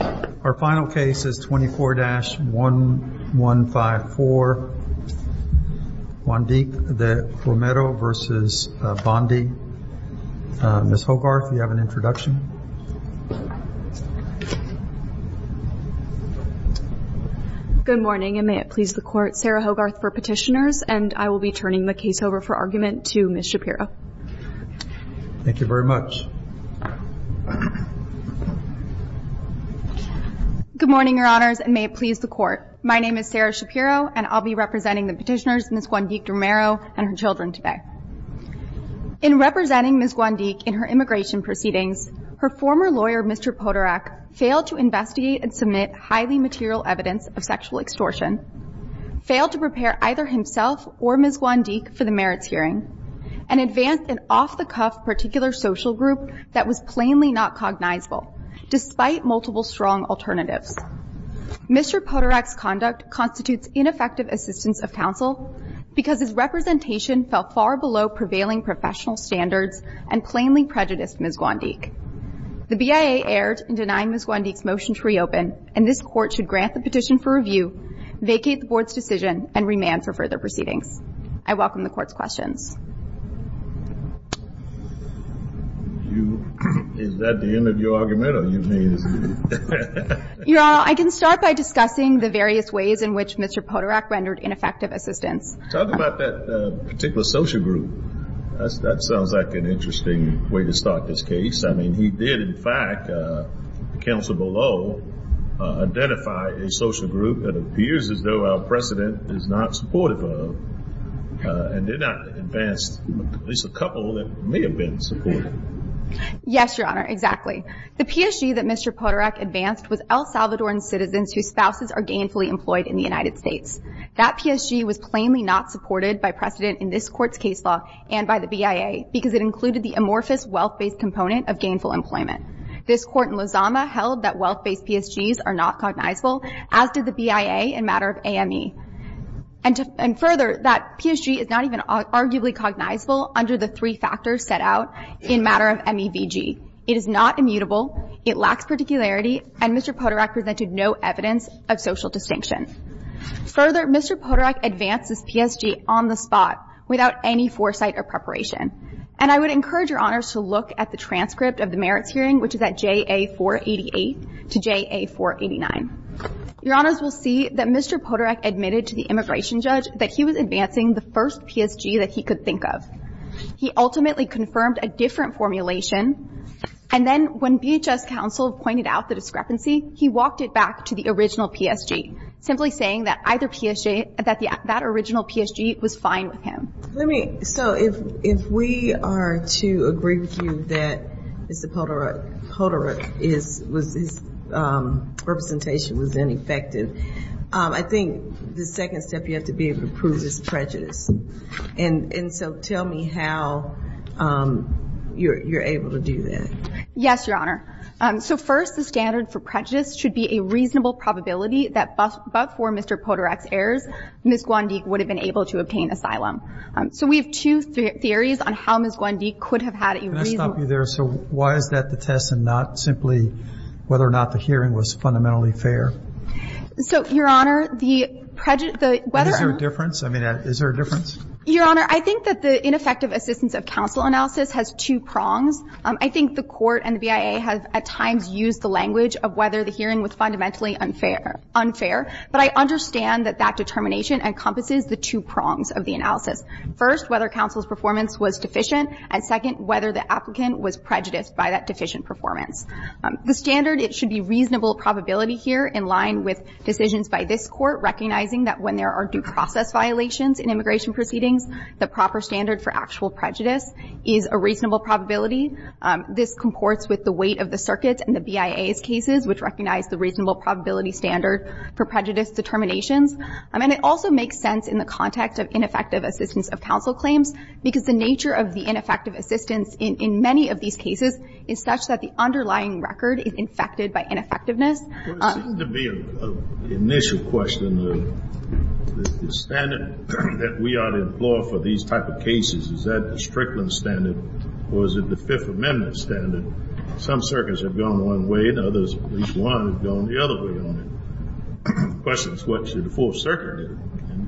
Our final case is 24-1154, Guandique-De Romero v. Bondi. Ms. Hogarth, you have an introduction. Good morning, and may it please the Court. Sarah Hogarth for Petitioners. And I will be turning the case over for argument to Ms. Shapiro. Thank you very much. Good morning, Your Honors, and may it please the Court. My name is Sarah Shapiro, and I'll be representing the petitioners, Ms. Guandique-De Romero, and her children today. In representing Ms. Guandique in her immigration proceedings, her former lawyer, Mr. Poderak, failed to investigate and submit highly material evidence of sexual extortion, failed to prepare either himself or Ms. Guandique for the merits hearing, and advanced an off-the-cuff particular social group that was plainly not cognizable, despite multiple strong alternatives. Mr. Poderak's conduct constitutes ineffective assistance of counsel because his representation fell far below prevailing professional standards and plainly prejudiced Ms. Guandique. The BIA erred in denying Ms. Guandique's motion to reopen, and this Court should grant the petition for review, vacate the Board's decision, and remand for further proceedings. I welcome the Court's questions. Is that the end of your argument, or do you mean? I can start by discussing the various ways in which Mr. Poderak rendered ineffective assistance. Talk about that particular social group. That sounds like an interesting way to start this case. I mean, he did, in fact, counsel below, identify a social group that appears as though our precedent is not supportive of, and did not advance at least a couple that may have been supportive. Yes, Your Honor, exactly. The PSG that Mr. Poderak advanced was El Salvadoran citizens whose spouses are gainfully employed in the United States. That PSG was plainly not supported by precedent in this Court's case law and by the BIA because it included the amorphous wealth-based component of gainful employment. This Court in Lozama held that wealth-based PSGs are not cognizable, as did the BIA in matter of AME. And further, that PSG is not even arguably cognizable under the three factors set out in matter of MEVG. It is not immutable. It lacks particularity. And Mr. Poderak presented no evidence of social distinction. Further, Mr. Poderak advanced this PSG on the spot without any foresight or preparation. And I would encourage Your Honors to look at the transcript of the merits hearing, which is at JA-488 to JA-489. Your Honors will see that Mr. Poderak admitted to the immigration judge that he was advancing the first PSG that he could think of. He ultimately confirmed a different formulation, and then when BHS counsel pointed out the discrepancy, he walked it back to the original PSG, simply saying that either PSG, that that original PSG was fine with him. So if we are to agree with you that Mr. Poderak, his representation was ineffective, I think the second step you have to be able to prove is prejudice. And so tell me how you're able to do that. Yes, Your Honor. So first, the standard for prejudice should be a reasonable probability that before Mr. Poderak's errors, Ms. Guandique would have been able to obtain asylum. So we have two theories on how Ms. Guandique could have had a reasonable Can I stop you there? So why is that the test and not simply whether or not the hearing was fundamentally fair? So, Your Honor, the prejudice, the whether Is there a difference? I mean, is there a difference? Your Honor, I think that the ineffective assistance of counsel analysis has two prongs. I think the Court and the BIA have at times used the language of whether the hearing was fundamentally unfair. But I understand that that determination encompasses the two prongs of the analysis. First, whether counsel's performance was deficient. And second, whether the applicant was prejudiced by that deficient performance. The standard, it should be reasonable probability here in line with decisions by this court, recognizing that when there are due process violations in immigration proceedings, the proper standard for actual prejudice is a reasonable probability. This comports with the weight of the circuits and the BIA's cases, which recognize the reasonable probability standard for prejudice determinations. And it also makes sense in the context of ineffective assistance of counsel claims, because the nature of the ineffective assistance in many of these cases is such that the underlying record is infected by ineffectiveness. There seems to be an initial question. The standard that we ought to employ for these type of cases, is that the Strickland standard or is it the Fifth Amendment standard? Some circuits have gone one way and others, at least one, have gone the other way on it. The question is what should the Fourth Circuit do?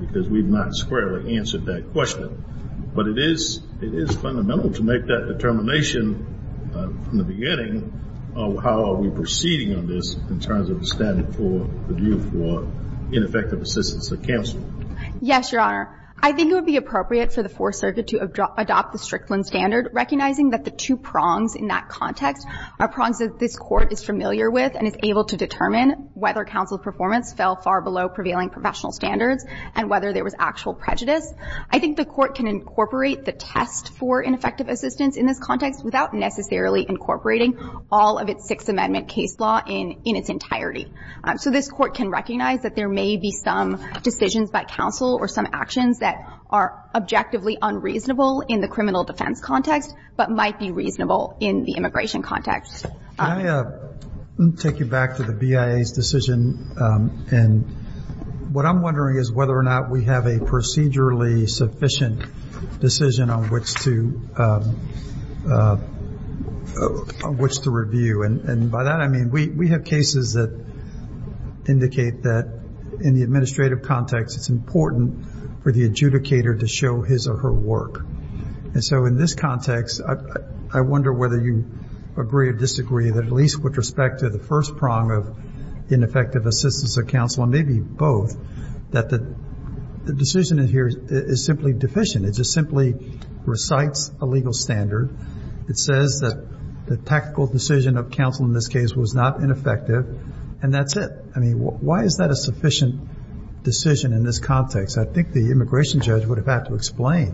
Because we've not squarely answered that question. But it is fundamental to make that determination from the beginning of how are we proceeding on this in terms of the standard for the view for ineffective assistance of counsel. Yes, Your Honor. I think it would be appropriate for the Fourth Circuit to adopt the Strickland standard, recognizing that the two prongs in that context are prongs that this court is familiar with and is able to determine whether counsel performance fell far below prevailing professional standards and whether there was actual prejudice. I think the court can incorporate the test for ineffective assistance in this context without necessarily incorporating all of its Sixth Amendment case law in its entirety. So this court can recognize that there may be some decisions by counsel or some actions that are objectively unreasonable in the criminal defense context but might be reasonable in the immigration context. Can I take you back to the BIA's decision? And what I'm wondering is whether or not we have a procedurally sufficient decision on which to review. And by that I mean we have cases that indicate that in the administrative context it's important for the adjudicator to show his or her work. And so in this context, I wonder whether you agree or disagree that at least with respect to the first prong of ineffective assistance of counsel and maybe both, that the decision in here is simply deficient. It just simply recites a legal standard. It says that the tactical decision of counsel in this case was not ineffective and that's it. I mean, why is that a sufficient decision in this context? I think the immigration judge would have had to explain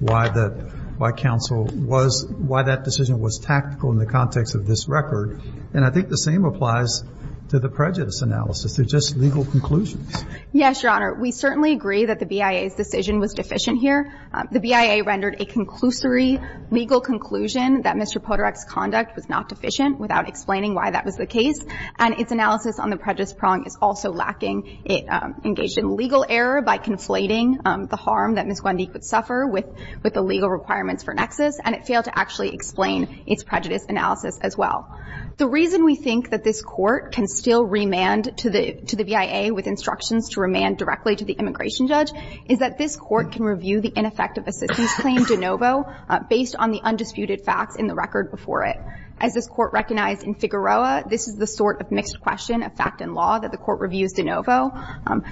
why the – why counsel was – why that decision was tactical in the context of this record. And I think the same applies to the prejudice analysis. They're just legal conclusions. Yes, Your Honor. We certainly agree that the BIA's decision was deficient here. The BIA rendered a conclusory legal conclusion that Mr. Podorek's conduct was not deficient without explaining why that was the case. And its analysis on the prejudice prong is also lacking. It engaged in legal error by conflating the harm that Ms. Guandique would suffer with the legal requirements for nexus, and it failed to actually explain its prejudice analysis as well. The reason we think that this Court can still remand to the – to the BIA with instructions to remand directly to the immigration judge is that this Court can review the ineffective assistance claim de novo based on the undisputed facts in the record before it. As this Court recognized in Figueroa, this is the sort of mixed question of fact and law that the Court reviews de novo,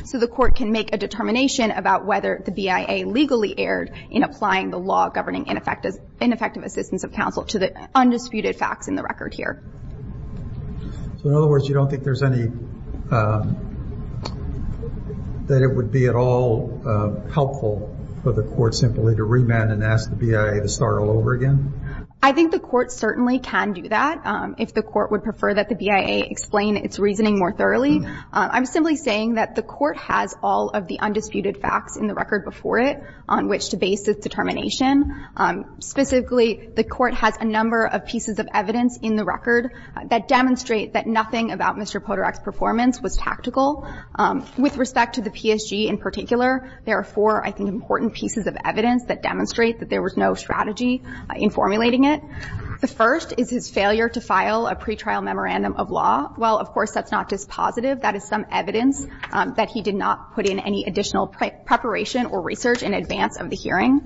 so the Court can make a determination about whether the BIA legally erred in applying the law governing ineffective assistance of counsel to the undisputed facts in the record here. So in other words, you don't think there's any – that it would be at all helpful for the Court simply to remand and ask the BIA to start all over again? I think the Court certainly can do that if the Court would prefer that the BIA explain its reasoning more thoroughly. I'm simply saying that the Court has all of the undisputed facts in the record before it on which to base its determination. Specifically, the Court has a number of pieces of evidence in the record that demonstrate that nothing about Mr. Podorek's performance was tactical. With respect to the PSG in particular, there are four, I think, important pieces of evidence that demonstrate that there was no strategy in formulating it. The first is his failure to file a pretrial memorandum of law. While, of course, that's not dispositive, that is some evidence that he did not put in any additional preparation or research in advance of the hearing.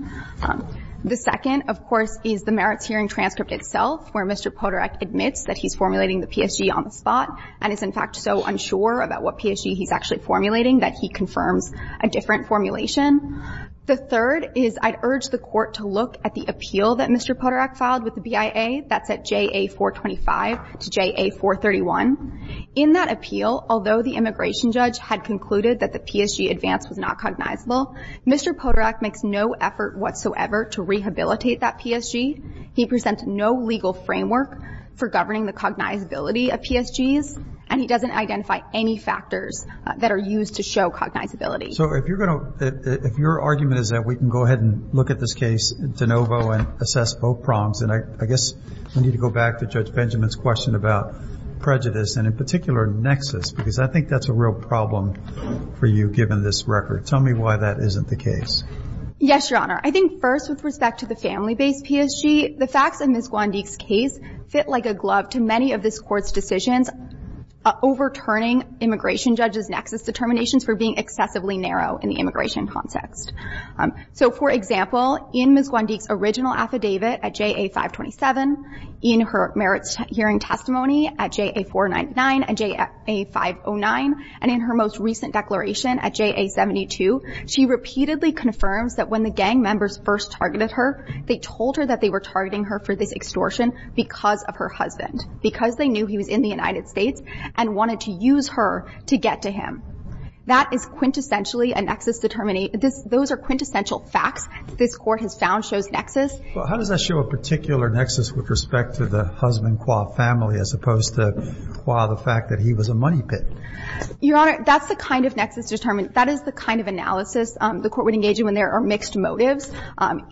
The second, of course, is the merits hearing transcript itself where Mr. Podorek admits that he's formulating the PSG on the spot and is, in fact, so unsure about what PSG he's actually formulating that he confirms a different formulation. The third is I'd urge the Court to look at the appeal that Mr. Podorek filed with the BIA. That's at JA-425 to JA-431. In that appeal, although the immigration judge had concluded that the PSG advance was not cognizable, Mr. Podorek makes no effort whatsoever to rehabilitate that PSG. He presents no legal framework for governing the cognizability of PSGs, and he doesn't identify any factors that are used to show cognizability. So if you're going to – if your argument is that we can go ahead and look at this case de novo and assess both prongs, then I guess we need to go back to Judge Benjamin's question about prejudice and, in particular, nexus, because I think that's a real problem for you, given this record. Tell me why that isn't the case. Yes, Your Honor. I think, first, with respect to the family-based PSG, the facts in Ms. Gwandik's case fit like a glove to many of this Court's decisions overturning immigration judge's nexus determinations for being excessively narrow in the immigration context. So, for example, in Ms. Gwandik's original affidavit at JA-527, in her merits hearing testimony at JA-499 and JA-509, and in her most recent declaration at JA-72, she repeatedly confirms that when the gang members first targeted her, they told her that they were targeting her for this extortion because of her husband, because they knew he was in the United States and wanted to use her to get to him. That is quintessentially a nexus determination. Those are quintessential facts that this Court has found shows nexus. Well, how does that show a particular nexus with respect to the husband-court family as opposed to the fact that he was a money pit? Your Honor, that's the kind of nexus determination, that is the kind of analysis the Court would engage in when there are mixed motives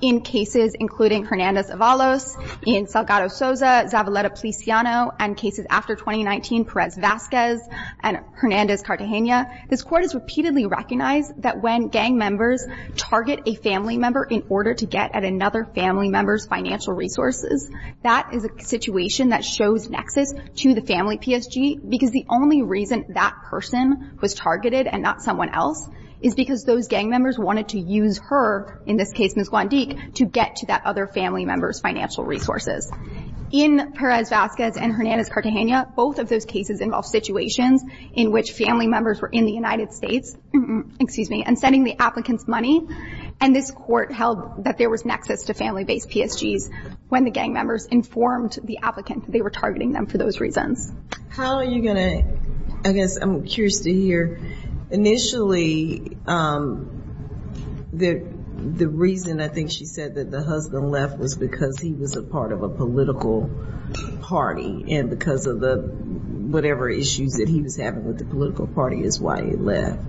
in cases, including Hernandez-Avalos, Ian Salgado-Sosa, Zavaleta-Policiano, and cases after 2019, Perez-Vazquez and Hernandez-Cartagena. This Court has repeatedly recognized that when gang members target a family member in order to get at another family member's financial resources, that is a situation that shows nexus to the family PSG, because the only reason that person was targeted and not someone else is because those gang members wanted to use her, in this case Ms. Gwandik, to get to that other family member's financial resources. In Perez-Vazquez and Hernandez-Cartagena, both of those cases involved situations in which family members were in the United States and sending the applicants money, and this Court held that there was nexus to family-based PSGs when the gang members informed the applicant that they were targeting them for those reasons. How are you going to, I guess I'm curious to hear, Initially, the reason I think she said that the husband left was because he was a part of a political party, and because of whatever issues that he was having with the political party is why he left.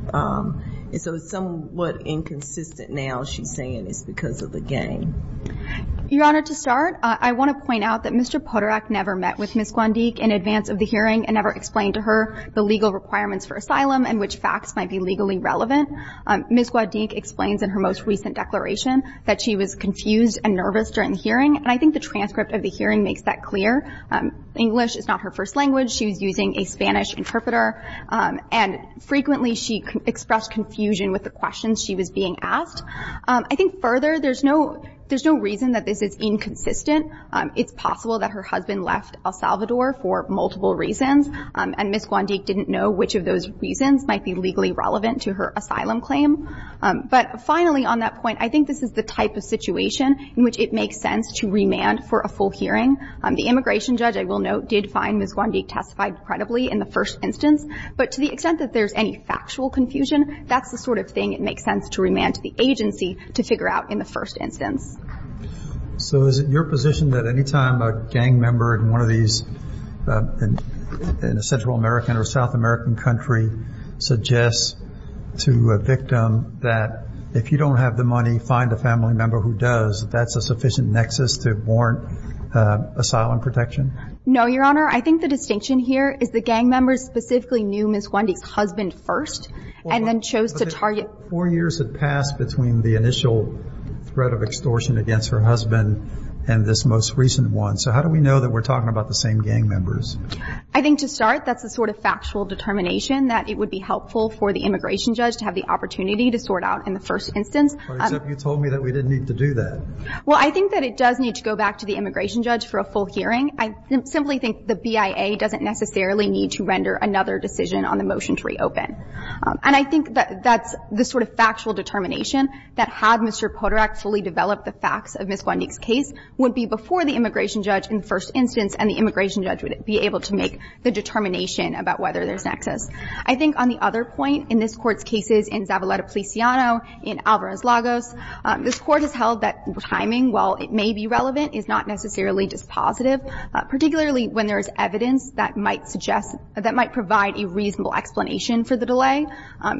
So it's somewhat inconsistent now, she's saying it's because of the gang. Your Honor, to start, I want to point out that Mr. Poderak never met with Ms. Gwandik in advance of the hearing and never explained to her the legal requirements for asylum and which facts might be legally relevant. Ms. Gwandik explains in her most recent declaration that she was confused and nervous during the hearing, and I think the transcript of the hearing makes that clear. English is not her first language. She was using a Spanish interpreter, and frequently she expressed confusion with the questions she was being asked. I think further, there's no reason that this is inconsistent. It's possible that her husband left El Salvador for multiple reasons, and Ms. Gwandik didn't know which of those reasons might be legally relevant to her asylum claim. But finally, on that point, I think this is the type of situation in which it makes sense to remand for a full hearing. The immigration judge, I will note, did find Ms. Gwandik testified credibly in the first instance, but to the extent that there's any factual confusion, that's the sort of thing it makes sense to remand to the agency to figure out in the first instance. So is it your position that any time a gang member in one of these, in a Central American or South American country, suggests to a victim that if you don't have the money, find a family member who does, that that's a sufficient nexus to warrant asylum protection? No, Your Honor. I think the distinction here is the gang members specifically knew Ms. Gwandik's husband first, and then chose to target... Four years had passed between the initial threat of extortion against her husband and this most recent one. So how do we know that we're talking about the same gang members? I think to start, that's the sort of factual determination, that it would be helpful for the immigration judge to have the opportunity to sort out in the first instance. Except you told me that we didn't need to do that. Well, I think that it does need to go back to the immigration judge for a full hearing. I simply think the BIA doesn't necessarily need to render another decision on the motion to reopen. And I think that that's the sort of factual determination, that had Mr. Poderak fully developed the facts of Ms. Gwandik's case, would be before the immigration judge in the first instance, and the immigration judge would be able to make the determination about whether there's a nexus. I think on the other point, in this Court's cases in Zavaleta-Policiano, in Alvarez-Lagos, this Court has held that timing, while it may be relevant, is not necessarily just positive, particularly when there is evidence that might suggest, that might provide a reasonable explanation for the delay.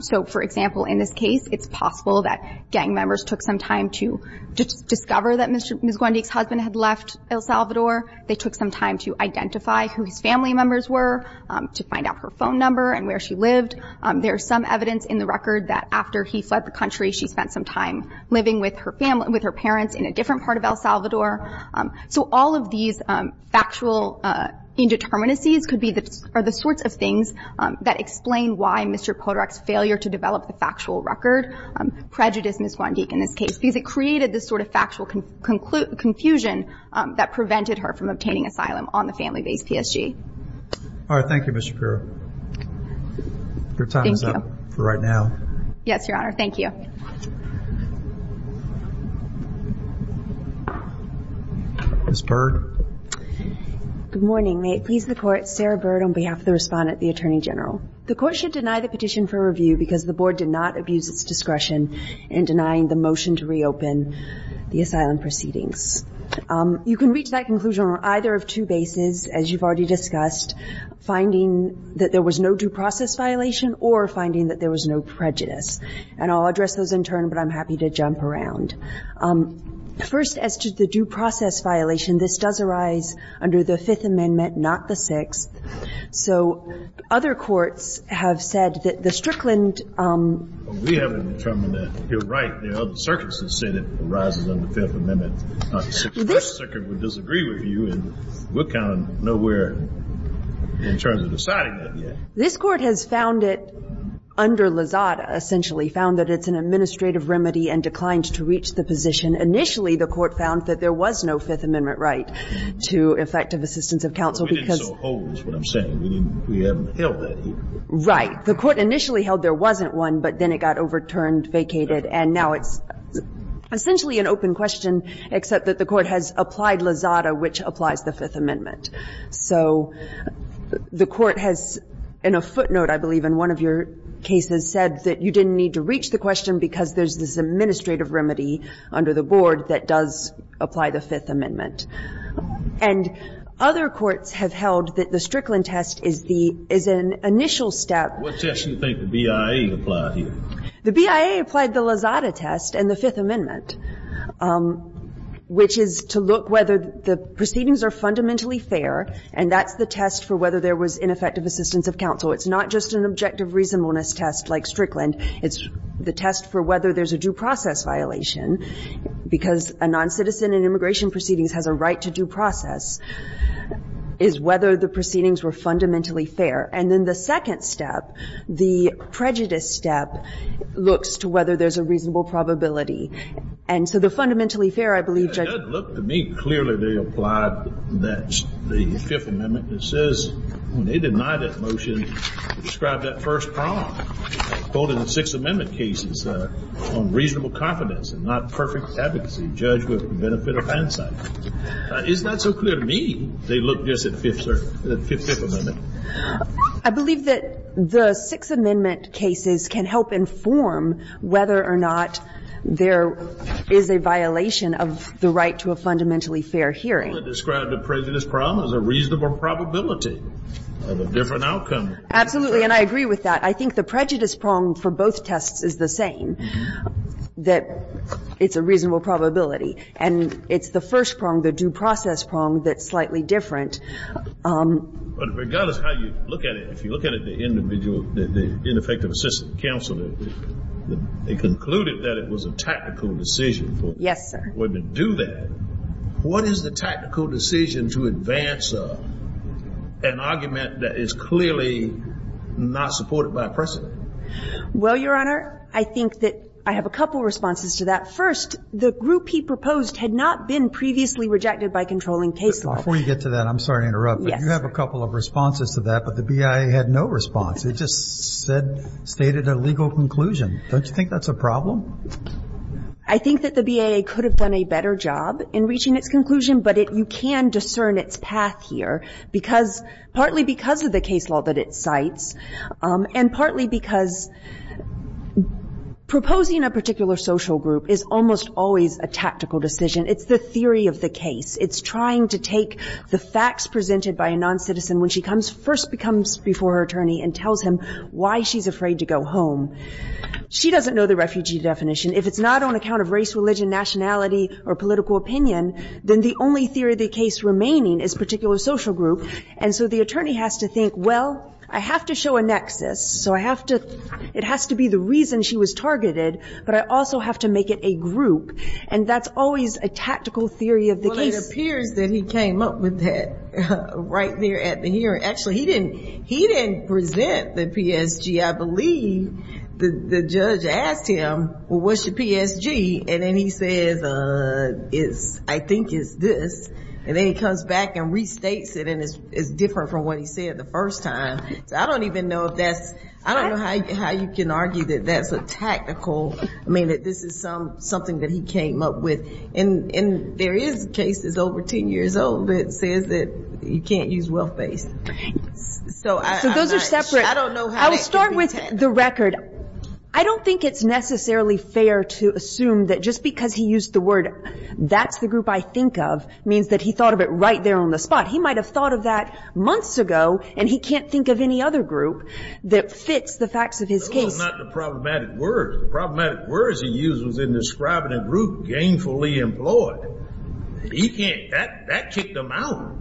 So, for example, in this case, it's possible that gang members took some time to discover that Ms. Gwandik's husband had left El Salvador. They took some time to identify who his family members were, to find out her phone number and where she lived. There is some evidence in the record that after he fled the country, she spent some time living with her parents in a different part of El Salvador. So all of these factual indeterminacies could be the sorts of things that explain why Mr. Podorek's failure to develop the factual record prejudiced Ms. Gwandik in this case, because it created this sort of factual confusion that prevented her from obtaining asylum on the family-based PSG. All right. Thank you, Ms. Shapiro. Your time is up for right now. Yes, Your Honor. Thank you. Ms. Byrd. Good morning. May it please the Court, Sarah Byrd on behalf of the Respondent, the Attorney General. The Court should deny the petition for review because the Board did not abuse its discretion in denying the motion to reopen the asylum proceedings. You can reach that conclusion on either of two bases, as you've already discussed, finding that there was no due process violation or finding that there was no prejudice. And I'll address those in turn, but I'm happy to jump around. First, as to the due process violation, this does arise under the Fifth Amendment, not the Sixth. So other courts have said that the Strickland – We haven't determined that. You're right. The other circuits have said it arises under the Fifth Amendment. The First Circuit would disagree with you, and we're kind of nowhere in terms of deciding that yet. This Court has found it under Lazada, essentially, found that it's an administrative remedy and declined to reach the position. Initially, the Court found that there was no Fifth Amendment right to effective assistance of counsel because – But we didn't so hold, is what I'm saying. We haven't held that here. Right. The Court initially held there wasn't one, but then it got overturned, vacated, and now it's essentially an open question, except that the Court has applied Lazada, which applies the Fifth Amendment. So the Court has – and a footnote, I believe, in one of your cases said that you didn't need to reach the question because there's this administrative remedy under the board that does apply the Fifth Amendment. And other courts have held that the Strickland test is the – is an initial step. What test do you think the BIA applied here? The BIA applied the Lazada test and the Fifth Amendment, which is to look whether the proceedings are fundamentally fair, and that's the test for whether there was ineffective assistance of counsel. It's not just an objective reasonableness test like Strickland. It's the test for whether there's a due process violation, because a noncitizen in immigration proceedings has a right to due process, is whether the proceedings were fundamentally fair. And then the second step, the prejudice step, looks to whether there's a reasonable probability. And so the fundamentally fair, I believe, Judge – But, look, to me, clearly they applied that – the Fifth Amendment that says when they deny that motion, describe that first problem. They quoted the Sixth Amendment cases on reasonable confidence and not perfect advocacy. Judge would benefit of insight. It's not so clear to me they looked just at Fifth – Fifth Amendment. I believe that the Sixth Amendment cases can help inform whether or not there is a reasonable probability of a different outcome. Absolutely. And I agree with that. I think the prejudice prong for both tests is the same, that it's a reasonable probability. And it's the first prong, the due process prong, that's slightly different. But regardless how you look at it, if you look at it, the individual – the ineffective assistance of counsel, they concluded that it was a tactical decision for – Yes, sir. to do that. What is the tactical decision to advance an argument that is clearly not supported by precedent? Well, Your Honor, I think that I have a couple responses to that. First, the group he proposed had not been previously rejected by controlling case law. Before you get to that, I'm sorry to interrupt. Yes. But you have a couple of responses to that, but the BIA had no response. It just said – stated a legal conclusion. Don't you think that's a problem? I think that the BIA could have done a better job in reaching its conclusion, but it – you can discern its path here because – partly because of the case law that it cites, and partly because proposing a particular social group is almost always a tactical decision. It's the theory of the case. It's trying to take the facts presented by a noncitizen when she comes – first comes before her attorney and tells him why she's afraid to go home. She doesn't know the refugee definition. If it's not on account of race, religion, nationality, or political opinion, then the only theory of the case remaining is particular social group. And so the attorney has to think, well, I have to show a nexus. So I have to – it has to be the reason she was targeted, but I also have to make it a group. And that's always a tactical theory of the case. Well, it appears that he came up with that right there at the hearing. Actually, he didn't present the PSG. I believe the judge asked him, well, what's your PSG? And then he says, I think it's this. And then he comes back and restates it, and it's different from what he said the first time. So I don't even know if that's – I don't know how you can argue that that's a tactical – I mean, that this is something that he came up with. And there is cases over 10 years old that says that you can't use wealth-based things. So I – So those are separate. I don't know how that could be 10. I'll start with the record. I don't think it's necessarily fair to assume that just because he used the word, that's the group I think of, means that he thought of it right there on the spot. He might have thought of that months ago, and he can't think of any other group that fits the facts of his case. No, it's not the problematic word. The problematic word he used was in describing a group gainfully employed. He can't – that kicked him out.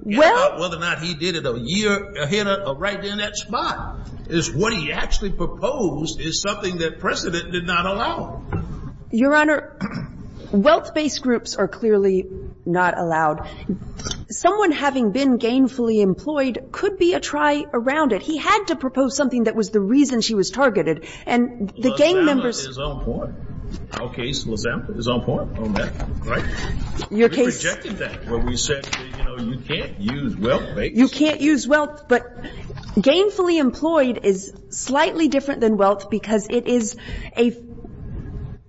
Well – It's not whether or not he did it a year ahead or right there on that spot. It's what he actually proposed is something that precedent did not allow. Your Honor, wealth-based groups are clearly not allowed. Someone having been gainfully employed could be a try around it. He had to propose something that was the reason she was targeted. And the gain members – LaSalle is on point. Our case, LaSalle is on point on that, right? Your case – We rejected that when we said, you know, you can't use wealth-based. You can't use wealth, but gainfully employed is slightly different than wealth because it is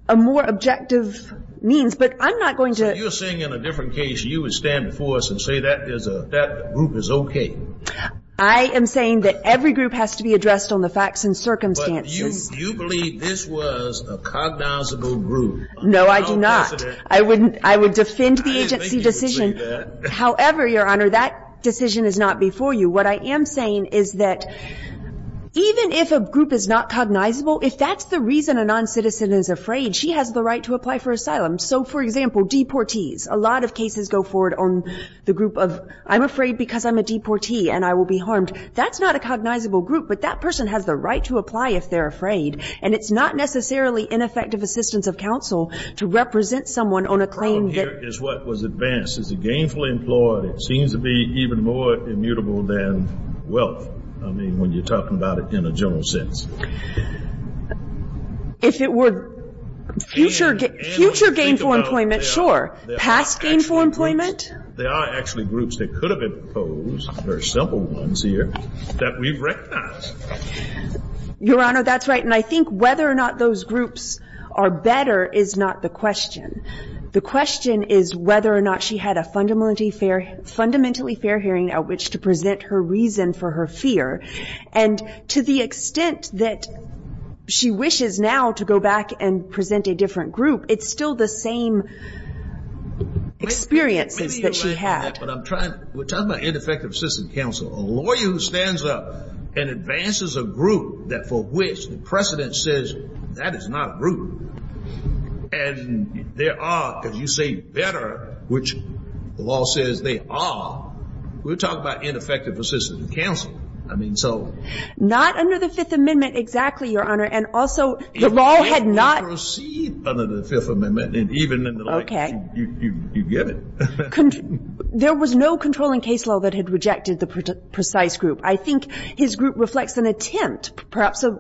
a more objective means. But I'm not going to – So you're saying in a different case you would stand before us and say that group is okay. I am saying that every group has to be addressed on the facts and circumstances. But you believe this was a cognizable group. No, I do not. I would defend the agency decision. However, Your Honor, that decision is not before you. What I am saying is that even if a group is not cognizable, if that's the reason a noncitizen is afraid, she has the right to apply for asylum. So, for example, deportees. A lot of cases go forward on the group of I'm afraid because I'm a deportee and I will be harmed. That's not a cognizable group, but that person has the right to apply if they're afraid. And it's not necessarily ineffective assistance of counsel to represent someone on a claim that – The problem here is what was advanced. Is it gainfully employed? It seems to be even more immutable than wealth. I mean, when you're talking about it in a general sense. If it were future gainful employment, sure. Past gainful employment? There are actually groups that could have been proposed, very simple ones here, that we've recognized. Your Honor, that's right. And I think whether or not those groups are better is not the question. The question is whether or not she had a fundamentally fair hearing at which to present her reason for her fear. And to the extent that she wishes now to go back and present a different group, it's still the same experiences that she had. But I'm trying – we're talking about ineffective assistance of counsel. A lawyer who stands up and advances a group that for which the precedent says that is not a group, and there are, because you say better, which the law says they are, we're talking about ineffective assistance of counsel. I mean, so – Not under the Fifth Amendment exactly, Your Honor. And also the law had not – there was no controlling case law that had rejected the precise group. I think his group reflects an attempt, perhaps a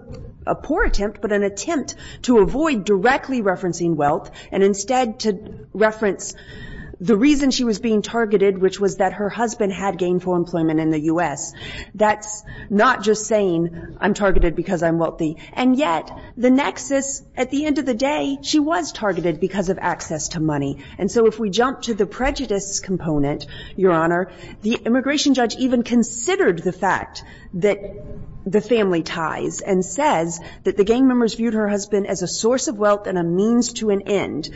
poor attempt, but an attempt to avoid directly referencing wealth and instead to reference the reason she was being targeted, which was that her husband had gainful employment in the U.S. That's not just saying I'm targeted because I'm wealthy. And yet the nexus, at the end of the day, she was targeted because of access to money. And so if we jump to the prejudice component, Your Honor, the immigration judge even considered the fact that the family ties and says that the gang members viewed her husband as a source of wealth and a means to an end,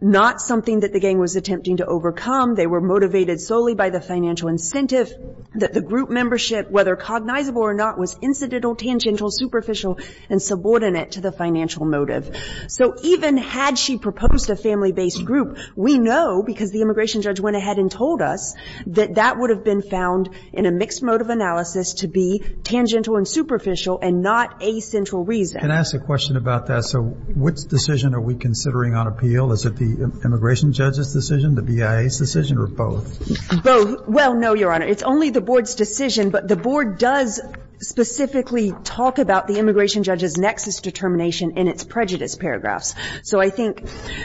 not something that the gang was attempting to overcome. They were motivated solely by the financial incentive that the group membership, whether cognizable or not, was incidental, tangential, superficial, and subordinate to the financial motive. So even had she proposed a family-based group, we know, because the immigration judge went ahead and told us, that that would have been found in a mixed mode of analysis to be tangential and superficial and not a central reason. Can I ask a question about that? So which decision are we considering on appeal? Is it the immigration judge's decision, the BIA's decision, or both? Both. Well, no, Your Honor. It's only the Board's decision. But the Board does specifically talk about the immigration judge's nexus determination in its prejudice paragraphs. So I think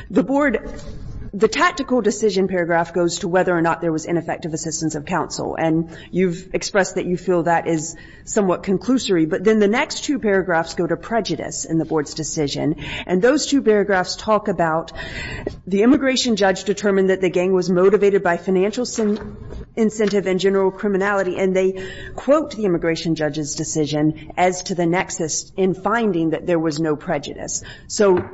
the Board, the tactical decision paragraph goes to whether or not there was ineffective assistance of counsel. And you've expressed that you feel that is somewhat conclusory. But then the next two paragraphs go to prejudice in the Board's decision. And those two paragraphs talk about the immigration judge determined that the gang was motivated by financial incentive and general criminality. And they quote the immigration judge's decision as to the nexus in finding that there was no prejudice. So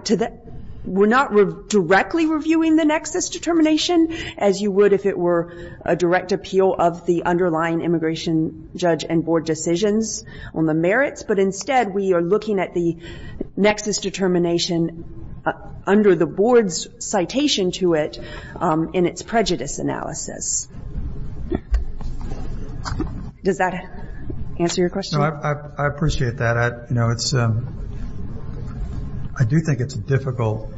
we're not directly reviewing the nexus determination as you would if it were a direct appeal of the underlying immigration judge and Board decisions on the merits. But instead, we are looking at the nexus determination under the Board's citation to it in its prejudice analysis. Does that answer your question? No, I appreciate that. You know, I do think it's a difficult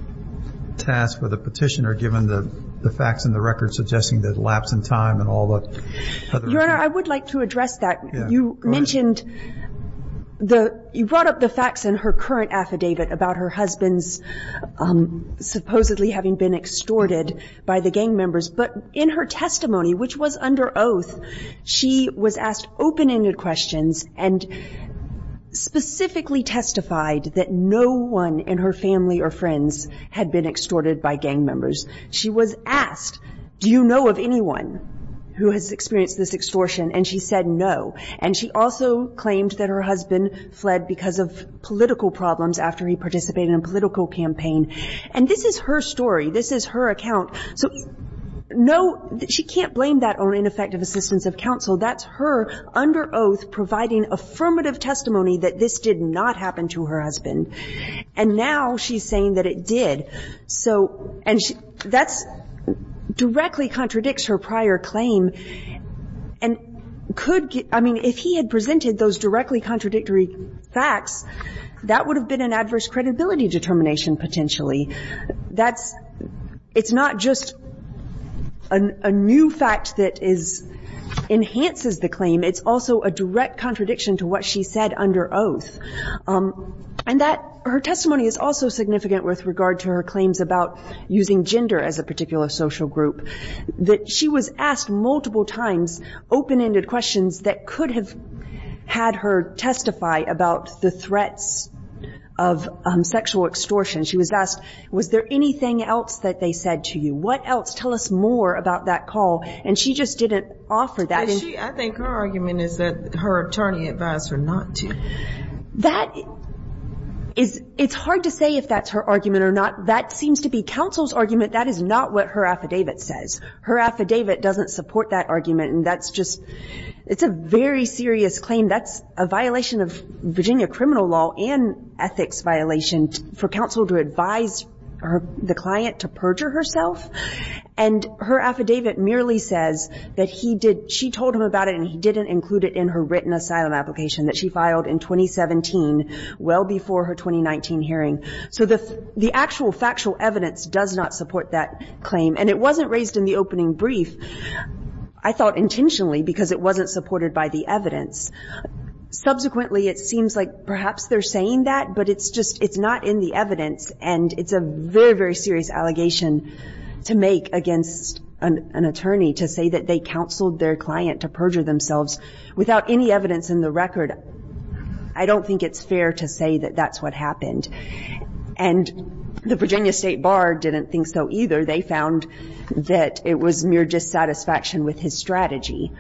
task for the petitioner, given the facts in the record suggesting that lapse in time and all that. Your Honor, I would like to address that. You mentioned the you brought up the facts in her current affidavit about her husband's supposedly having been extorted by the gang members. But in her testimony, which was under oath, she was asked open-ended questions and specifically testified that no one in her family or friends had been extorted by gang members. She was asked, do you know of anyone who has experienced this extortion? And she said no. And she also claimed that her husband fled because of political problems after he participated in a political campaign. And this is her story. This is her account. So no, she can't blame that on ineffective assistance of counsel. That's her, under oath, providing affirmative testimony that this did not happen to her husband. And now she's saying that it did. So, and that directly contradicts her prior claim and could get – I mean, if he had presented those directly contradictory facts, that would have been an adverse credibility determination potentially. That's – it's not just a new fact that is – enhances the claim. It's also a direct contradiction to what she said under oath. And that – her testimony is also significant with regard to her claims about using gender as a particular social group. That she was asked multiple times open-ended questions that could have had her testify about the threats of sexual extortion. She was asked, was there anything else that they said to you? What else? Tell us more about that call. And she just didn't offer that. And she – I think her argument is that her attorney advised her not to. That is – it's hard to say if that's her argument or not. That seems to be counsel's argument. That is not what her affidavit says. Her affidavit doesn't support that argument. And that's just – it's a very serious claim. That's a violation of Virginia criminal law and ethics violation for counsel to advise her – the client to perjure herself. And her affidavit merely says that he did – she told him about it and he didn't include it in her written asylum application that she filed in 2017, well before her 2019 hearing. So the actual factual evidence does not support that claim. And it wasn't raised in the opening brief, I thought intentionally, because it wasn't supported by the evidence. Subsequently, it seems like perhaps they're saying that, but it's just – it's not in the evidence. And it's a very, very serious allegation to make against an attorney to say that they counseled their client to perjure themselves without any evidence in the record. I don't think it's fair to say that that's what happened. And the Virginia State Bar didn't think so either. They found that it was mere dissatisfaction with his strategy.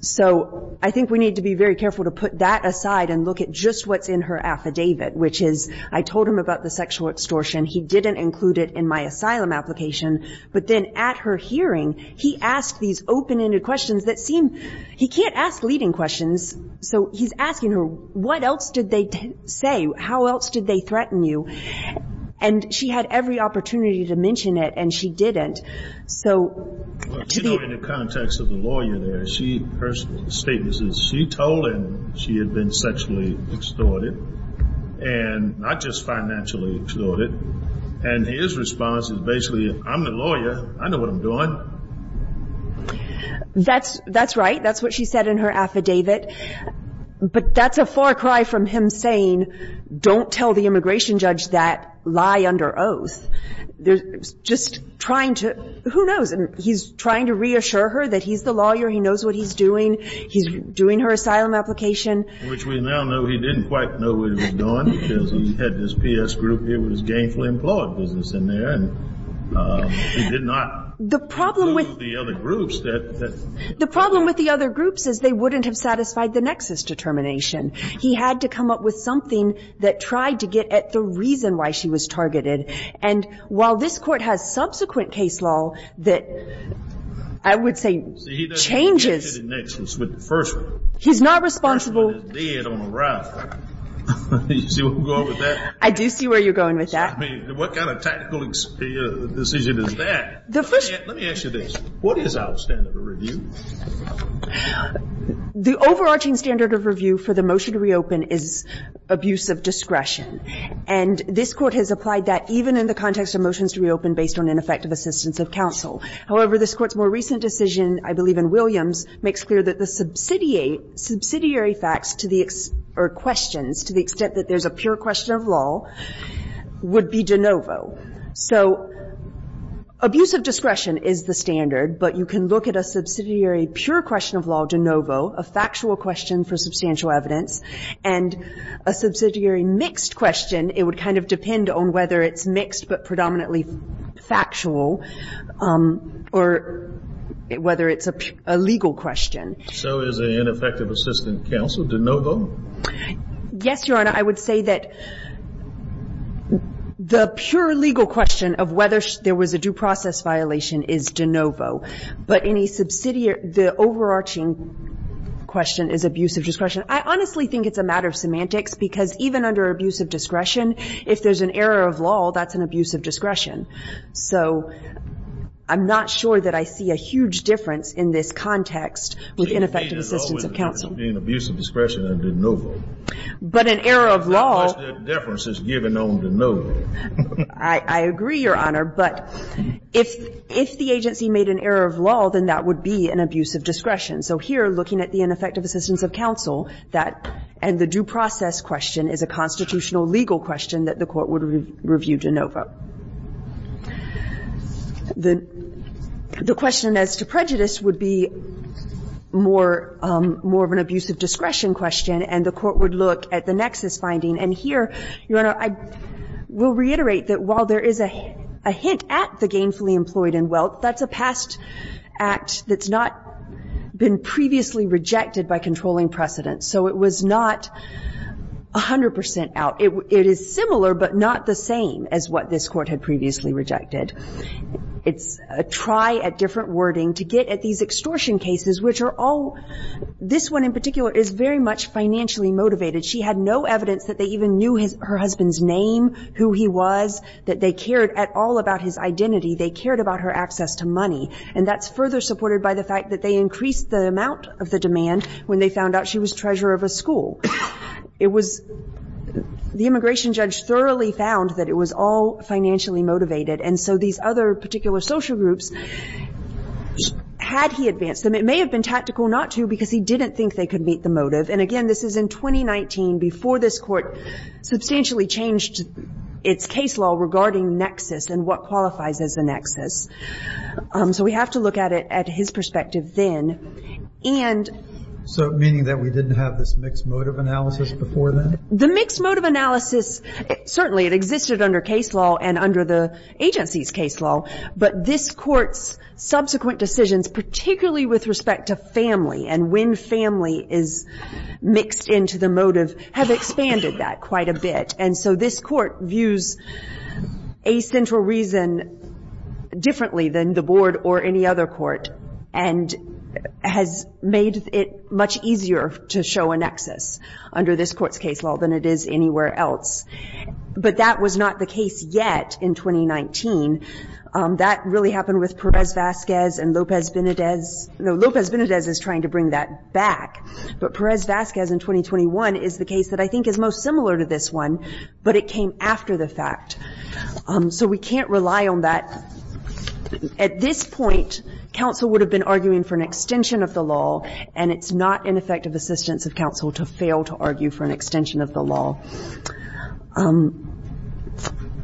So I think we need to be very careful to put that aside and look at just what's in her affidavit, which is, I told him about the sexual extortion. He didn't include it in my asylum application. But then at her hearing, he asked these open-ended questions that seem – he can't ask leading questions. So he's asking her, what else did they say? How else did they threaten you? And she had every opportunity to mention it, and she didn't. In the context of the lawyer there, her statement says she told him she had been sexually extorted, and not just financially extorted. And his response is basically, I'm the lawyer. I know what I'm doing. That's right. That's what she said in her affidavit. But that's a far cry from him saying, don't tell the immigration judge that. Lie under oath. Just trying to – who knows? He's trying to reassure her that he's the lawyer. He knows what he's doing. He's doing her asylum application. Which we now know he didn't quite know what he was doing because he had this PS group. It was gainfully employed business in there, and he did not know the other groups that – The problem with the other groups is they wouldn't have satisfied the nexus determination. He had to come up with something that tried to get at the reason why she was targeted, and while this court has subsequent case law that, I would say, changes – See, he doesn't want to hit a nexus with the first one. He's not responsible – The first one is dead on arrival. You see where I'm going with that? I do see where you're going with that. I mean, what kind of tactical decision is that? The first – Let me ask you this. What is our standard of review? The overarching standard of review for the motion to reopen is abuse of discretion, and this Court has applied that even in the context of motions to reopen based on ineffective assistance of counsel. However, this Court's more recent decision, I believe in Williams, makes clear that the subsidiary facts to the – or questions to the extent that there's a pure question of law would be de novo. So abuse of discretion is the standard, but you can look at a subsidiary pure question of law de novo, a factual question for substantial evidence, and a subsidiary mixed question. It would kind of depend on whether it's mixed but predominantly factual or whether it's a legal question. So is an ineffective assistant counsel de novo? Yes, Your Honor. I would say that the pure legal question of whether there was a due process violation is de novo. But any subsidiary – the overarching question is abuse of discretion. I honestly think it's a matter of semantics because even under abuse of discretion, if there's an error of law, that's an abuse of discretion. So I'm not sure that I see a huge difference in this context with ineffective assistance of counsel. To me, there's always a difference between abuse of discretion and de novo. But an error of law – How much difference is given on de novo? I agree, Your Honor. But if the agency made an error of law, then that would be an abuse of discretion. So here, looking at the ineffective assistance of counsel, that – and the due process question is a constitutional legal question that the Court would review de novo. The question as to prejudice would be more of an abuse of discretion question, and the Court would look at the nexus finding. And here, Your Honor, I will reiterate that while there is a hint at the gainfully employed in wealth, that's a past act that's not been previously rejected by controlling precedents. So it was not 100 percent out. It is similar but not the same as what this Court had previously rejected. It's a try at different wording to get at these extortion cases, which are all – this one in particular is very much financially motivated. She had no evidence that they even knew her husband's name, who he was, that they cared at all about his identity. They cared about her access to money. And that's further supported by the fact that they increased the amount of the demand when they found out she was treasurer of a school. It was – the immigration judge thoroughly found that it was all financially motivated. And so these other particular social groups, had he advanced them – it may have been tactical not to because he didn't think they could meet the motive. And again, this is in 2019, before this Court substantially changed its case law regarding nexus and what qualifies as a nexus. So we have to look at it at his perspective then. And – So meaning that we didn't have this mixed motive analysis before then? The mixed motive analysis, certainly it existed under case law and under the agency's case law. But this Court's subsequent decisions, particularly with respect to family and when family is mixed into the motive, have expanded that quite a bit. And so this Court views a central reason differently than the board or any other court and has made it much easier to show a nexus under this Court's case law than it is anywhere else. But that was not the case yet in 2019. That really happened with Perez-Vasquez and Lopez-Benedez. No, Lopez-Benedez is trying to bring that back. But Perez-Vasquez in 2021 is the case that I think is most similar to this one, but it came after the fact. So we can't rely on that. At this point, counsel would have been arguing for an extension of the law, and it's not in effect of assistance of counsel to fail to argue for an So,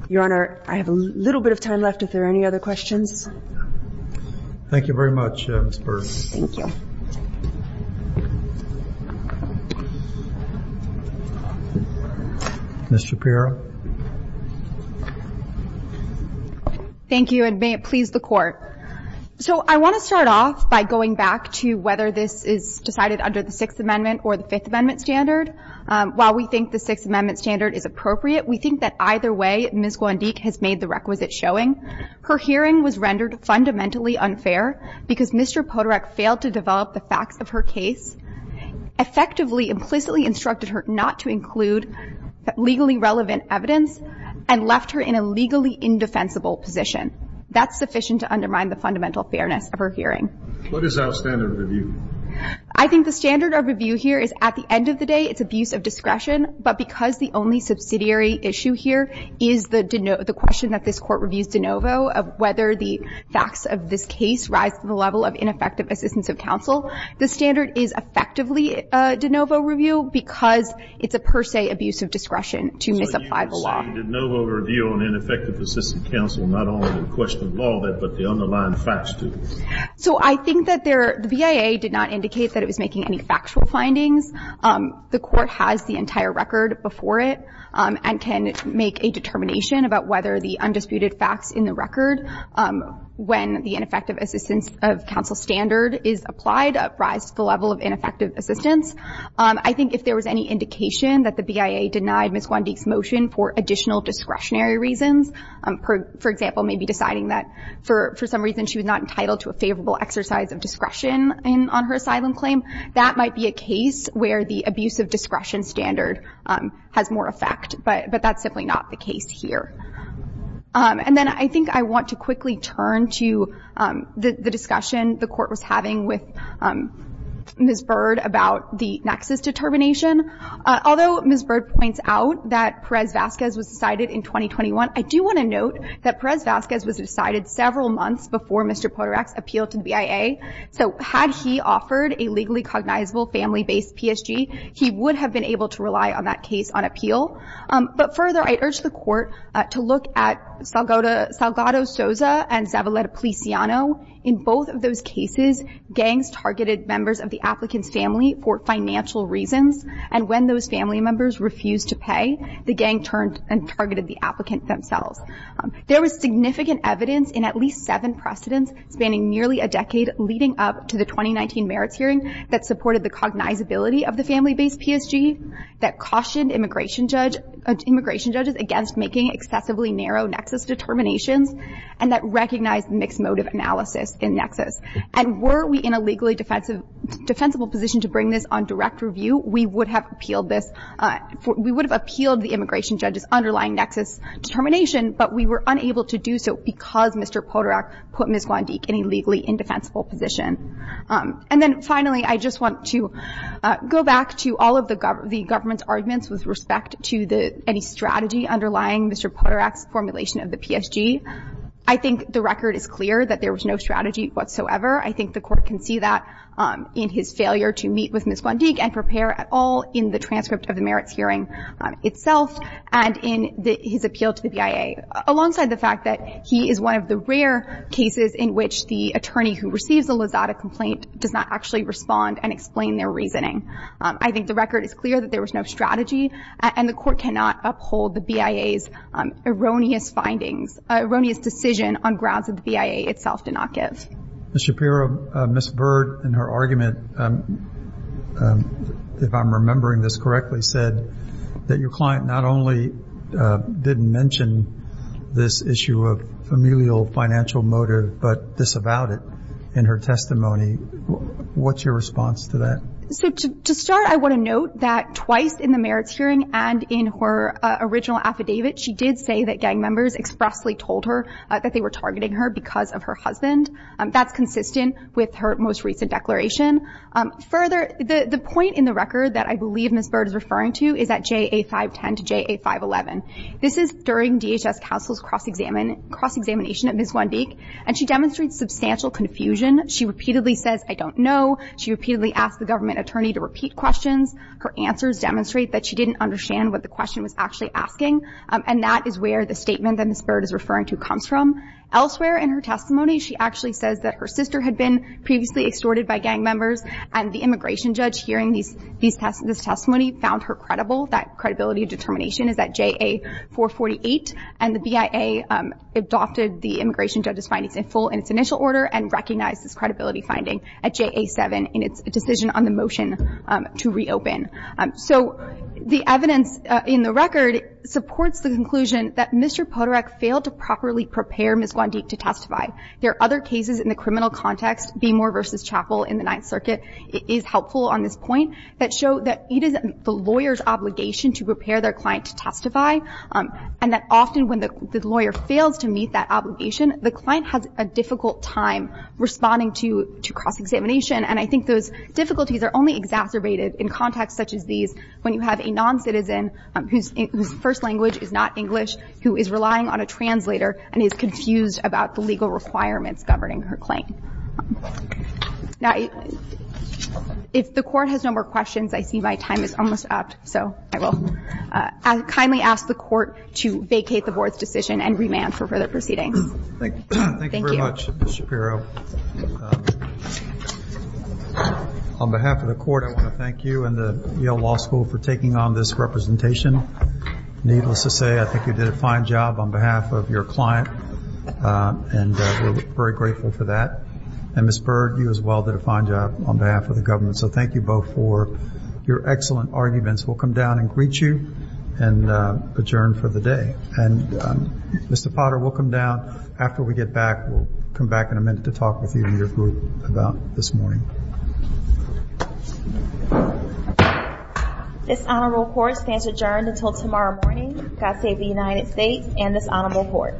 Your Honor, I have a little bit of time left if there are any other questions. Thank you very much, Ms. Burr. Thank you. Ms. Shapiro. Thank you, and may it please the Court. So I want to start off by going back to whether this is decided under the Sixth Amendment or the Fifth Amendment standard. While we think the Sixth Amendment standard is appropriate, we think that either way Ms. Guandique has made the requisite showing. Her hearing was rendered fundamentally unfair because Mr. Podorek failed to develop the facts of her case, effectively implicitly instructed her not to include legally relevant evidence, and left her in a legally indefensible position. That's sufficient to undermine the fundamental fairness of her hearing. What is our standard of review? I think the standard of review here is at the end of the day, it's abuse of discretion. But because the only subsidiary issue here is the question that this Court reviews de novo of whether the facts of this case rise to the level of ineffective assistance of counsel, the standard is effectively a de novo review because it's a per se abuse of discretion to misapply the law. So you're saying a de novo review on ineffective assistance of counsel is not only a question of law, but the underlying facts, too? So I think that the BIA did not indicate that it was making any factual findings. The Court has the entire record before it and can make a determination about whether the undisputed facts in the record when the ineffective assistance of counsel standard is applied rise to the level of ineffective assistance. I think if there was any indication that the BIA denied Ms. Guandique's motion for additional discretionary reasons, for example, maybe deciding that for some reason she was not entitled to a favorable exercise of discretion on her asylum claim, that might be a case where the abuse of discretion standard has more effect. But that's simply not the case here. And then I think I want to quickly turn to the discussion the Court was having with Ms. Bird about the nexus determination. Although Ms. Bird points out that Perez-Vazquez was decided in 2021, I do want to note that Perez-Vazquez was decided several months before Mr. Podorek's appeal to the BIA. So had he offered a legally cognizable family-based PSG, he would have been able to rely on that case on appeal. But further, I urge the Court to look at Salgado-Souza and Zavaleta-Policiano. In both of those cases, gangs targeted members of the applicant's family for financial reasons, and when those family members refused to pay, the gang turned and targeted the applicant themselves. There was significant evidence in at least seven precedents spanning nearly a decade leading up to the 2019 merits hearing that supported the cognizability of the family-based PSG, that cautioned immigration judges against making excessively narrow nexus determinations, and that recognized mixed motive analysis in nexus. And were we in a legally defensible position to bring this on direct review, we would have appealed the immigration judge's underlying nexus determination, but we were unable to do so because Mr. Podorek put Ms. Gwandik in a legally indefensible position. And then finally, I just want to go back to all of the government's arguments with respect to any strategy underlying Mr. Podorek's formulation of the PSG. I think the record is clear that there was no strategy whatsoever. I think the Court can see that in his failure to meet with Ms. Gwandik and prepare at all in the transcript of the merits hearing itself and in his appeal to the BIA, alongside the fact that he is one of the rare cases in which the attorney who receives a Lozada complaint does not actually respond and explain their reasoning. I think the record is clear that there was no strategy, and the Court cannot uphold the BIA's erroneous findings, erroneous decision on grounds that the BIA itself did not give. Ms. Shapiro, Ms. Bird, in her argument, if I'm remembering this correctly, said that your client not only didn't mention this issue of familial financial motive but disavowed it in her testimony. What's your response to that? To start, I want to note that twice in the merits hearing and in her original affidavit, she did say that gang members expressly told her that they were targeting her because of her husband. That's consistent with her most recent declaration. Further, the point in the record that I believe Ms. Bird is referring to is at JA-510 to JA-511. This is during DHS counsel's cross-examination at Ms. Wendik, and she demonstrates substantial confusion. She repeatedly says, I don't know. She repeatedly asks the government attorney to repeat questions. Her answers demonstrate that she didn't understand what the question was actually asking, and that is where the statement that Ms. Bird is referring to comes from. Elsewhere in her testimony, she actually says that her sister had been previously extorted by gang members, and the immigration judge, hearing this testimony, found her credible. That credibility determination is at JA-448, and the BIA adopted the immigration judge's findings in full in its initial order and recognized this credibility finding at JA-7 in its decision on the motion to reopen. So the evidence in the record supports the conclusion that Mr. Podorek failed to properly prepare Ms. Wendik to testify. There are other cases in the criminal context, Beemore v. Chappell in the Ninth Circuit is helpful on this point, that show that it is the lawyer's obligation to prepare their client to testify, and that often when the lawyer fails to meet that obligation, the client has a difficult time responding to cross-examination, and I think those difficulties are only exacerbated in contexts such as these when you have a non-citizen whose first language is not English, who is relying on a translator and is confused about the legal requirements governing her claim. Now, if the Court has no more questions, I see my time is almost up, so I will kindly ask the Court to vacate the Board's decision and remand for further proceedings. Thank you very much, Ms. Shapiro. On behalf of the Court, I want to thank you and the Yale Law School for taking on this representation. Needless to say, I think you did a fine job on behalf of your client, and we're very grateful for that. And Ms. Byrd, you as well did a fine job on behalf of the government, so thank you both for your excellent arguments. We'll come down and greet you and adjourn for the day. Mr. Potter, we'll come down after we get back. We'll come back in a minute to talk with you and your group about this morning. This Honorable Court stands adjourned until tomorrow morning. God save the United States and this Honorable Court.